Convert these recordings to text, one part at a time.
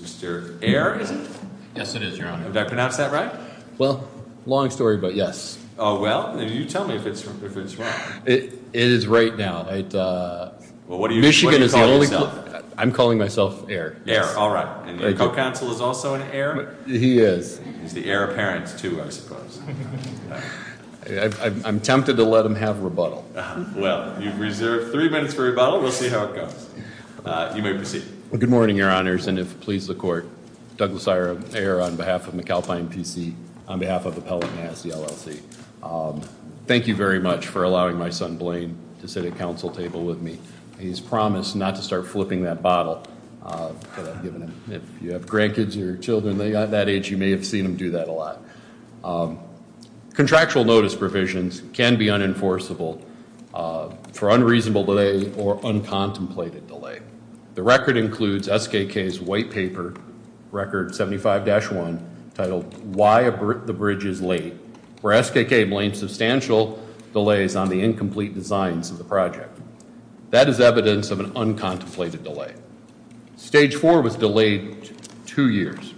Mr. Ayer, is it? Yes, it is, Your Honor. Did I pronounce that right? Well, long story, but yes. Oh, well. You tell me if it's wrong. It is right now. Well, what do you call yourself? Michigan is the only... I'm calling myself Ayer. Ayer, all right. And your co-counsel is also an Ayer? All right. All right. All right. All right. All right. All right. All right. All right. All right. All right. All right. All right. I'm tempted to let him have rebuttal. Well, you've reserved three minutes for rebuttal. We'll see how it goes. You may proceed. Well, good morning, Your Honors, and if it pleases the Court, Douglas Ayer, on behalf of McAlpine PC, on behalf of Appellate Mass, the LLC. Thank you very much for allowing my son, Blaine, to sit at counsel table with me. He's promised not to start flipping that bottle, but I've given him. If you have grandkids or children that age, you may have seen him do that a lot. Contractual notice provisions can be unenforceable for unreasonable delay or uncontemplated delay. The record includes SKK's white paper record 75-1, titled Why the Bridge is Late, where SKK blames substantial delays on the incomplete designs of the project. That is evidence of an uncontemplated delay. Stage four was delayed two years.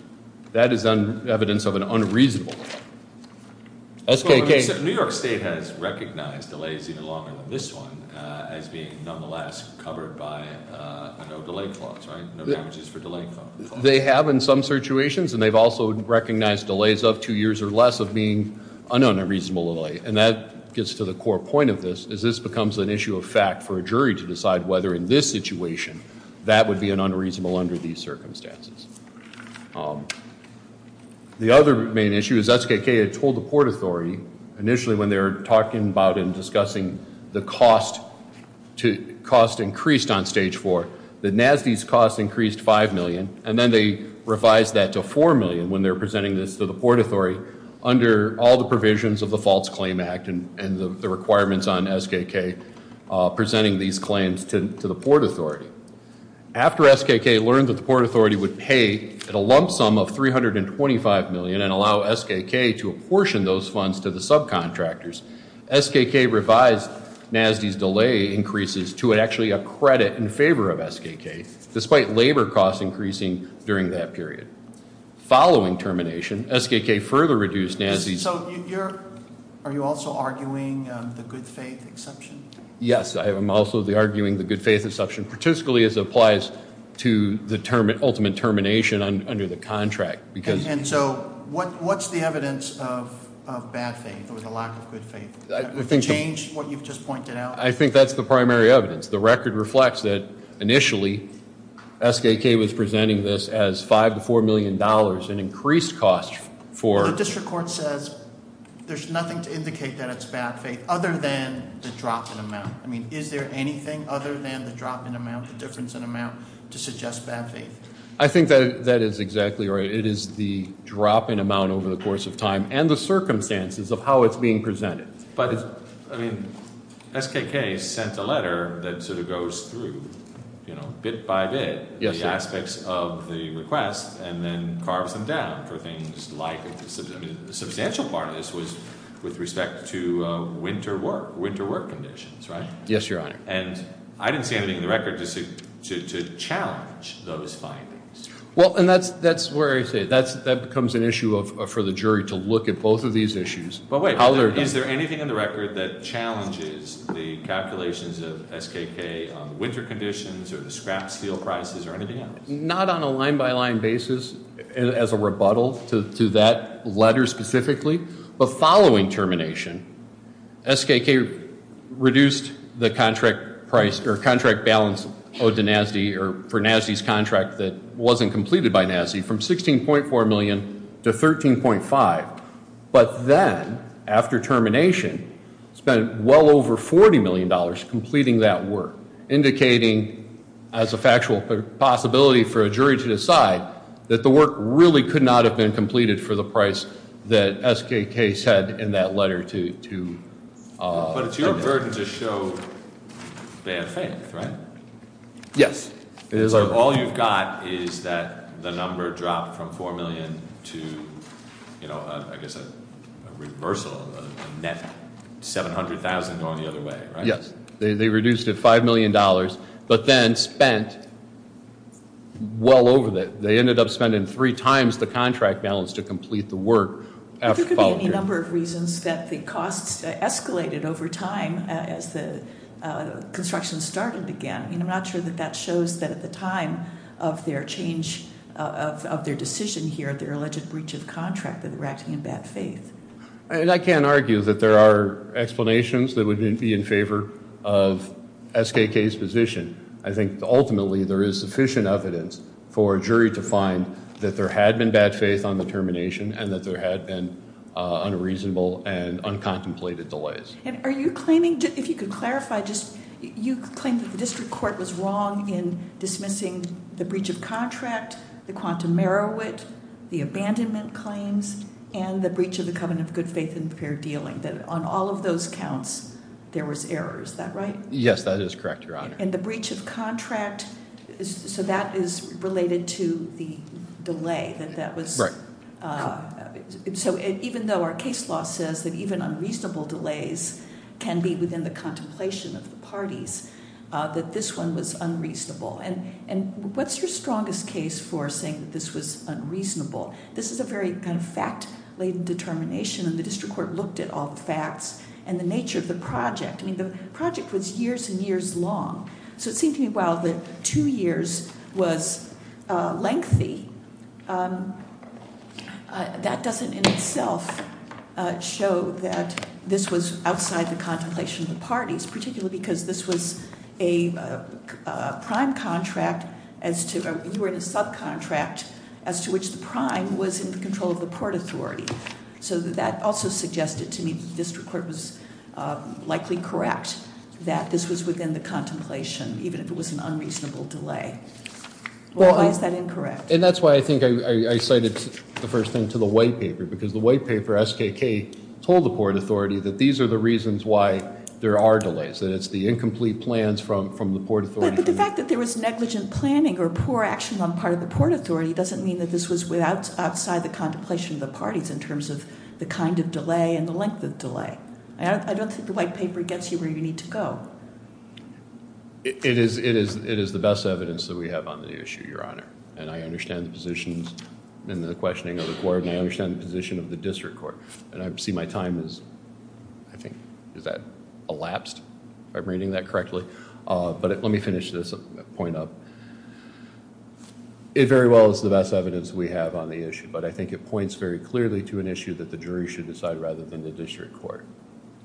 That is evidence of an unreasonable delay. SKK. New York State has recognized delays even longer than this one as being nonetheless covered by no delay clause, right, no damages for delay clause. They have in some situations, and they've also recognized delays of two years or less of being an unreasonable delay, and that gets to the core point of this, is this becomes an issue of fact for a jury to decide whether in this situation that would be an unreasonable under these circumstances. The other main issue is SKK had told the Port Authority initially when they were talking about and discussing the cost increased on stage four, that NASD's cost increased 5 million, and then they revised that to 4 million when they were presenting this to the Port Authority under all the provisions of the False Claim Act and the requirements on SKK presenting these claims to the Port Authority. After SKK learned that the Port Authority would pay at a lump sum of 325 million and allow SKK to apportion those funds to the subcontractors, SKK revised NASD's delay increases to actually a credit in favor of SKK, despite labor costs increasing during that period. Following termination, SKK further reduced NASD's- So you're, are you also arguing the good faith exception? Yes, I am also arguing the good faith exception, particularly as it applies to the ultimate termination under the contract, because- And so, what's the evidence of bad faith or the lack of good faith? I think- Change what you've just pointed out? I think that's the primary evidence. The record reflects that initially, SKK was presenting this as 5 to $4 million in increased cost for- So the district court says there's nothing to indicate that it's bad faith other than the drop in amount. I mean, is there anything other than the drop in amount, the difference in amount, to suggest bad faith? I think that is exactly right. It is the drop in amount over the course of time and the circumstances of how it's being presented. But it's, I mean, SKK sent a letter that sort of goes through, you know, bit by bit, the aspects of the request, and then carves them down for things like, I mean, the substantial part of this was with respect to winter work, winter work conditions, right? Yes, your honor. And I didn't see anything in the record to challenge those findings. Well, and that's where I say, that becomes an issue for the jury to look at both of these issues. But wait, is there anything in the record that challenges the calculations of SKK on winter conditions or the scrap steel prices or anything else? Not on a line by line basis as a rebuttal to that letter specifically, but following termination, SKK reduced the contract price or contract balance owed to NASD or for NASD's contract that wasn't completed by NASD from 16.4 million to 13.5. But then, after termination, spent well over $40 million completing that work, indicating as a factual possibility for a jury to decide that the work really could not have been completed for the price that SKK said in that letter to- But it's your burden to show bad faith, right? Yes. It is our- All you've got is that the number dropped from 4 million to, I guess, a reversal of a net 700,000 going the other way, right? Yes, they reduced it $5 million, but then spent well over that. They ended up spending three times the contract balance to complete the work. If there could be any number of reasons that the costs escalated over time as the construction started again. I mean, I'm not sure that that shows that at the time of their change of their decision here, their alleged breach of contract, that they're acting in bad faith. I can't argue that there are explanations that would be in favor of SKK's position. I think, ultimately, there is sufficient evidence for a jury to find that there had been bad faith on the termination and that there had been unreasonable and uncontemplated delays. And are you claiming, if you could clarify just, you claim that the district court was wrong in dismissing the breach of contract, the quantum merowit, the abandonment claims, and the breach of the covenant of good faith and fair dealing. That on all of those counts, there was error, is that right? Yes, that is correct, your honor. And the breach of contract, so that is related to the delay that that was- Can be within the contemplation of the parties, that this one was unreasonable. And what's your strongest case for saying that this was unreasonable? This is a very kind of fact-laden determination, and the district court looked at all the facts and the nature of the project. I mean, the project was years and years long. So it seemed to me, while the two years was lengthy, that doesn't in itself show that this was outside the contemplation of the parties. Particularly because this was a prime contract as to, you were in a subcontract as to which the prime was in the control of the port authority. So that also suggested to me that the district court was likely correct, that this was within the contemplation, even if it was an unreasonable delay. Why is that incorrect? And that's why I think I cited the first thing to the white paper. Because the white paper, SKK, told the port authority that these are the reasons why there are delays. And it's the incomplete plans from the port authority. But the fact that there was negligent planning or poor action on part of the port authority doesn't mean that this was outside the contemplation of the parties in terms of the kind of delay and the length of delay. I don't think the white paper gets you where you need to go. It is the best evidence that we have on the issue, your honor. And I understand the positions and the questioning of the court, and I understand the position of the district court. And I see my time is, I think, is that elapsed, if I'm reading that correctly? But let me finish this point up. It very well is the best evidence we have on the issue. But I think it points very clearly to an issue that the jury should decide rather than the district court.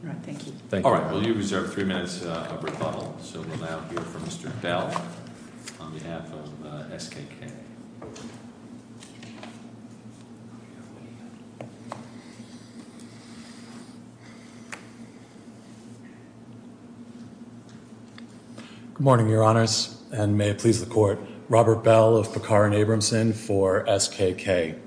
All right, thank you. So we'll now hear from Mr. Bell on behalf of SKK. Good morning, your honors, and may it please the court. Robert Bell of Picard and Abramson for SKK.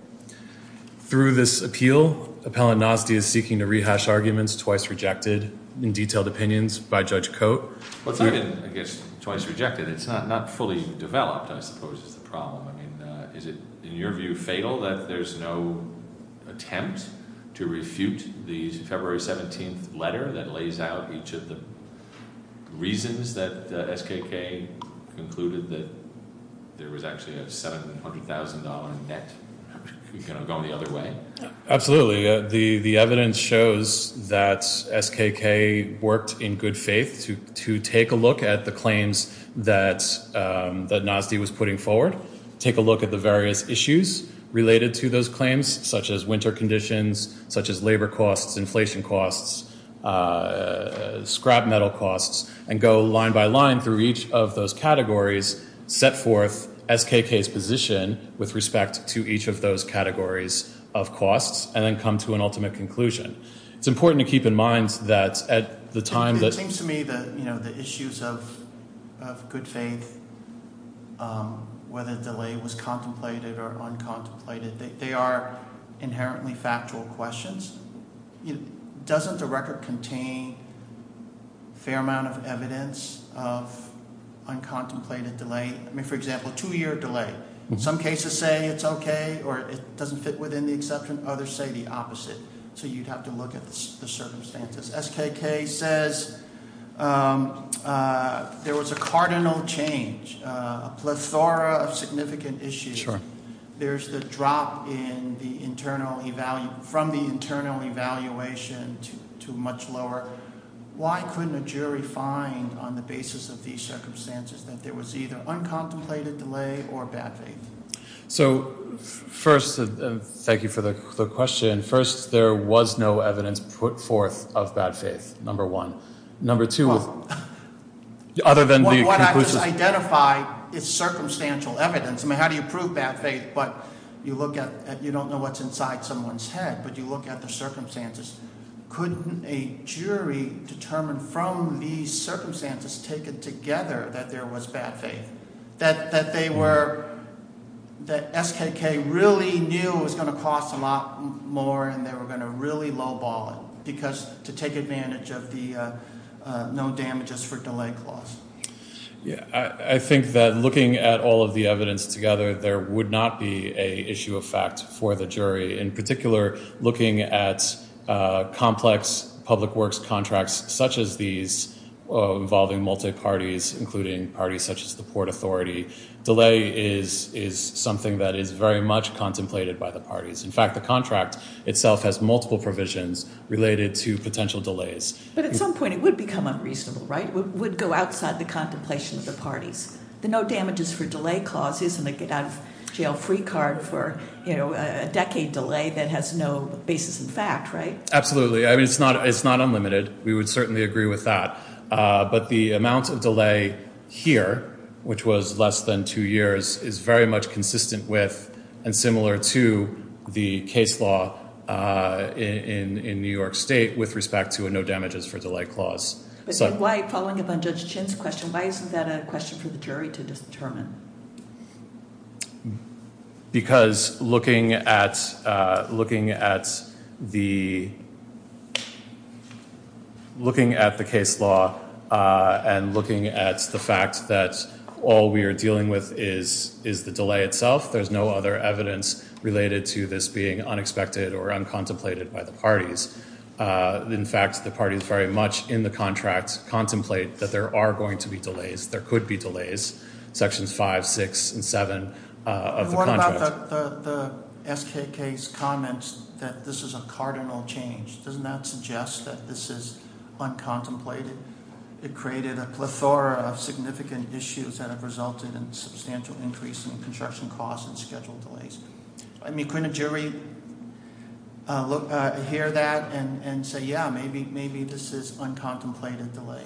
Through this appeal, Appellant Nosdy is seeking to rehash arguments twice rejected in detailed opinions by Judge Cote. Well, it's not been, I guess, twice rejected. It's not fully developed, I suppose, is the problem. Is it, in your view, fatal that there's no attempt to refute the February 17th letter that lays out each of the reasons that SKK concluded that there was actually a $700,000 net going the other way? Absolutely. The evidence shows that SKK worked in good faith to take a look at the claims that Nosdy was putting forward, take a look at the various issues related to those claims, such as winter conditions, such as labor costs, inflation costs, scrap metal costs, and go line by line through each of those categories, set forth SKK's position with respect to each of those categories of costs, and then come to an ultimate conclusion. It's important to keep in mind that at the time that- It seems to me that the issues of good faith, whether the delay was contemplated or uncontemplated, they are inherently factual questions. Doesn't the record contain a fair amount of evidence of uncontemplated delay? I mean, for example, two year delay. Some cases say it's okay, or it doesn't fit within the exception. Others say the opposite. So you'd have to look at the circumstances. SKK says there was a cardinal change, a plethora of significant issues. There's the drop from the internal evaluation to much lower. Why couldn't a jury find on the basis of these circumstances that there was either uncontemplated delay or bad faith? So first, thank you for the question. First, there was no evidence put forth of bad faith, number one. Number two, other than the- What I just identified is circumstantial evidence. I mean, how do you prove bad faith? But you look at, you don't know what's inside someone's head, but you look at the circumstances. Couldn't a jury determine from these circumstances taken together that there was bad faith? That they were, that SKK really knew it was going to cost a lot more and they were going to really low ball it because to take advantage of the no damages for delay clause. Yeah, I think that looking at all of the evidence together, there would not be a issue of fact for the jury. In particular, looking at complex public works contracts such as these involving multi-parties, including parties such as the Port Authority. Delay is something that is very much contemplated by the parties. In fact, the contract itself has multiple provisions related to potential delays. But at some point it would become unreasonable, right? Would go outside the contemplation of the parties. The no damages for delay clause isn't a get out of jail free card for a decade delay that has no basis in fact, right? Absolutely, I mean, it's not unlimited. We would certainly agree with that, but the amount of delay here, which was less than two years, is very much consistent with and similar to the case law in New York State with respect to a no damages for delay clause. But why, following up on Judge Chin's question, why isn't that a question for the jury to determine? Because looking at the case law and looking at the fact that all we are dealing with is the delay itself. There's no other evidence related to this being unexpected or uncontemplated by the parties. In fact, the parties very much in the contract contemplate that there are going to be delays. There could be delays. Sections five, six, and seven of the contract. What about the SKK's comments that this is a cardinal change? Doesn't that suggest that this is uncontemplated? It created a plethora of significant issues that have resulted in substantial increase in construction costs and schedule delays. I mean, couldn't a jury hear that and say, yeah, maybe this is uncontemplated delay?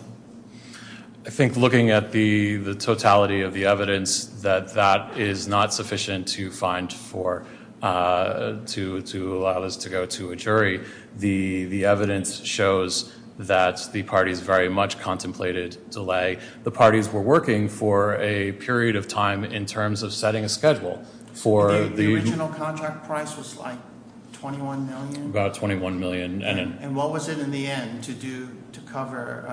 I think looking at the totality of the evidence that that is not sufficient to find for, to allow this to go to a jury, the evidence shows that the parties very much contemplated delay. The parties were working for a period of time in terms of setting a schedule for the- The original contract price was like 21 million? About 21 million. And what was it in the end to cover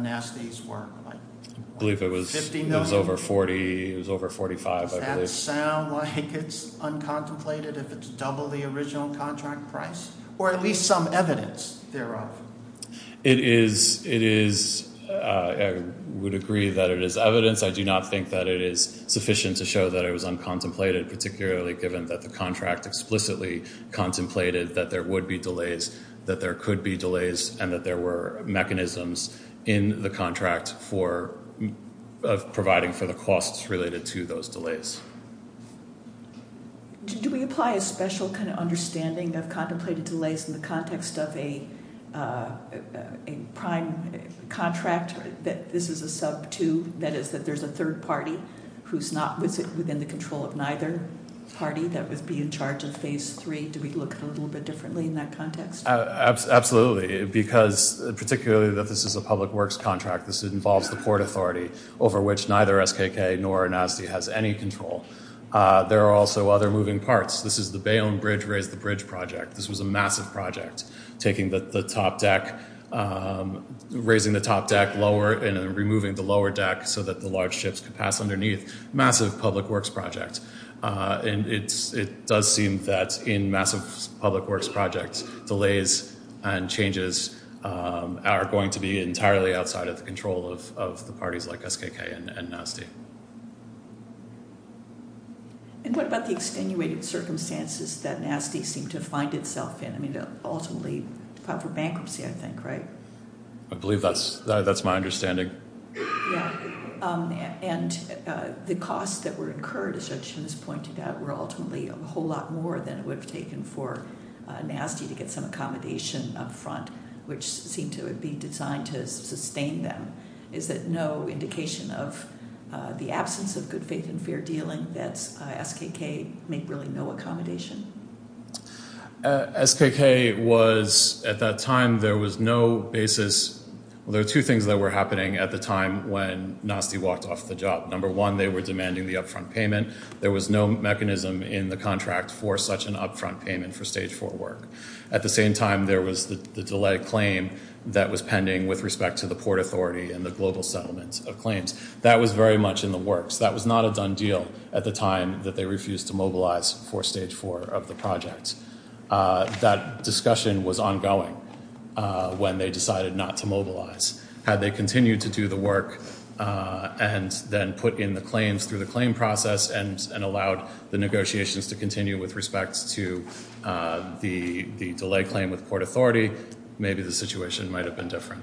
Nasty's work? I believe it was over 40, it was over 45, I believe. Does that sound like it's uncontemplated if it's double the original contract price? Or at least some evidence thereof? It is, I would agree that it is evidence. I do not think that it is sufficient to show that it was uncontemplated, particularly given that the contract explicitly contemplated that there would be delays, that there could be delays, and that there were mechanisms in the contract for providing for the costs related to those delays. Do we apply a special kind of understanding of contemplated delays in the context of a prime contract? That this is a sub two, that is that there's a third party who's not within the control of neither party that would be in charge of phase three. Do we look at it a little bit differently in that context? Absolutely, because particularly that this is a public works contract, this involves the port authority over which neither SKK nor Nasty has any control. There are also other moving parts. This is the Bayonne Bridge Raise the Bridge project. This was a massive project, raising the top deck lower and removing the lower deck so that the large ships could pass underneath. Massive public works project. And it does seem that in massive public works projects, delays and changes are going to be entirely outside of the control of the parties like SKK and Nasty. And what about the extenuated circumstances that Nasty seemed to find itself in? I mean, ultimately, for bankruptcy, I think, right? I believe that's my understanding. Yeah. And the costs that were incurred, as Ed Sheeran has pointed out, were ultimately a whole lot more than it would have taken for Nasty to get some accommodation up front, which seemed to be designed to sustain them. Is that no indication of the absence of good faith and fair dealing that SKK made really no accommodation? SKK was at that time, there was no basis. Well, there are two things that were happening at the time when Nasty walked off the job. Number one, they were demanding the upfront payment. There was no mechanism in the contract for such an upfront payment for stage four work. At the same time, there was the delay claim that was pending with respect to the port authority and the global settlement of claims. That was very much in the works. That was not a done deal at the time that they refused to mobilize for stage four of the project. That discussion was ongoing when they decided not to mobilize. Had they continued to do the work and then put in the claims through the claim process and allowed the negotiations to continue with respect to the delay claim with port authority, maybe the situation might have been different.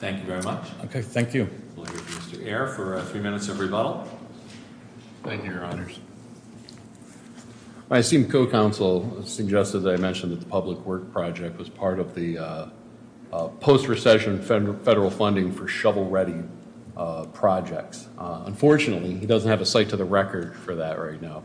Thank you very much. OK, thank you. We'll hear from Mr. Ayer for three minutes of rebuttal. Thank you, your honors. My esteemed co-counsel suggested that I mentioned that the public work project was part of the post-recession federal funding for shovel-ready projects. Unfortunately, he doesn't have a site to the record for that right now.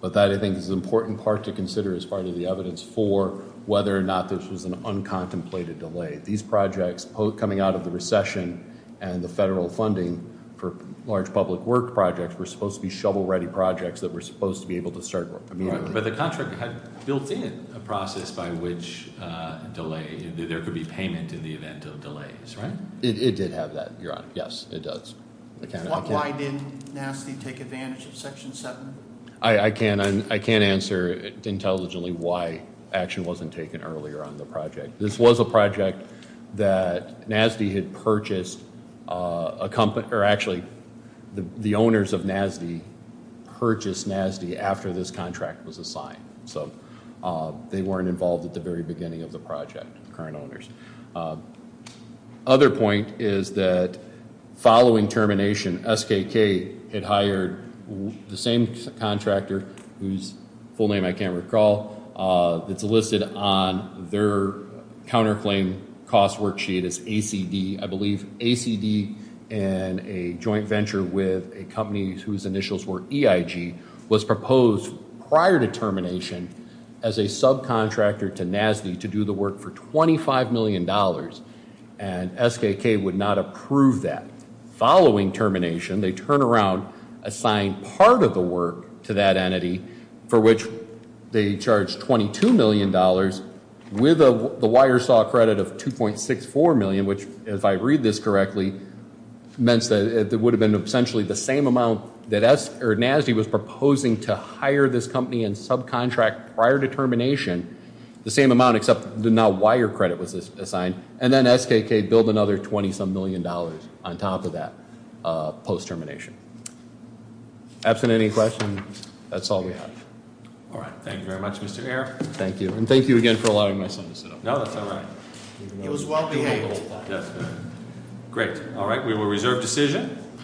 But that, I think, is an important part to consider as part of the evidence for whether or not this was an uncontemplated delay. These projects coming out of the recession and the federal funding for large public work projects were supposed to be shovel-ready projects that were supposed to be able to start immediately. But the contract had built in a process by which delay, there could be payment in the event of delays, right? It did have that, your honor. Yes, it does. Why didn't NASTY take advantage of Section 7? I can't answer intelligently why action wasn't taken earlier on the project. This was a project that NASTY had purchased, or actually the owners of NASTY purchased NASTY after this contract was assigned. So they weren't involved at the very beginning of the project, the current owners. Other point is that following termination, SKK had hired the same contractor whose full name I can't recall, that's listed on their counterclaim cost worksheet as ACD. I believe ACD and a joint venture with a company whose initials were EIG was proposed prior to termination as a subcontractor to NASTY to do the work for $25 million. And SKK would not approve that. Following termination, they turn around, assign part of the work to that entity for which they charge $22 million with the wire saw credit of 2.64 million, which if I read this correctly, meant that it would have been essentially the same amount that NASTY was proposing to hire this company and subcontract prior to termination. The same amount except the now wire credit was assigned, and then SKK billed another $20-some million on top of that post-termination. Absent any questions, that's all we have. All right, thank you very much, Mr. Ayer. Thank you. And thank you again for allowing my son to sit up. No, that's all right. He was well-behaved. Great. All right. We will reserve decision.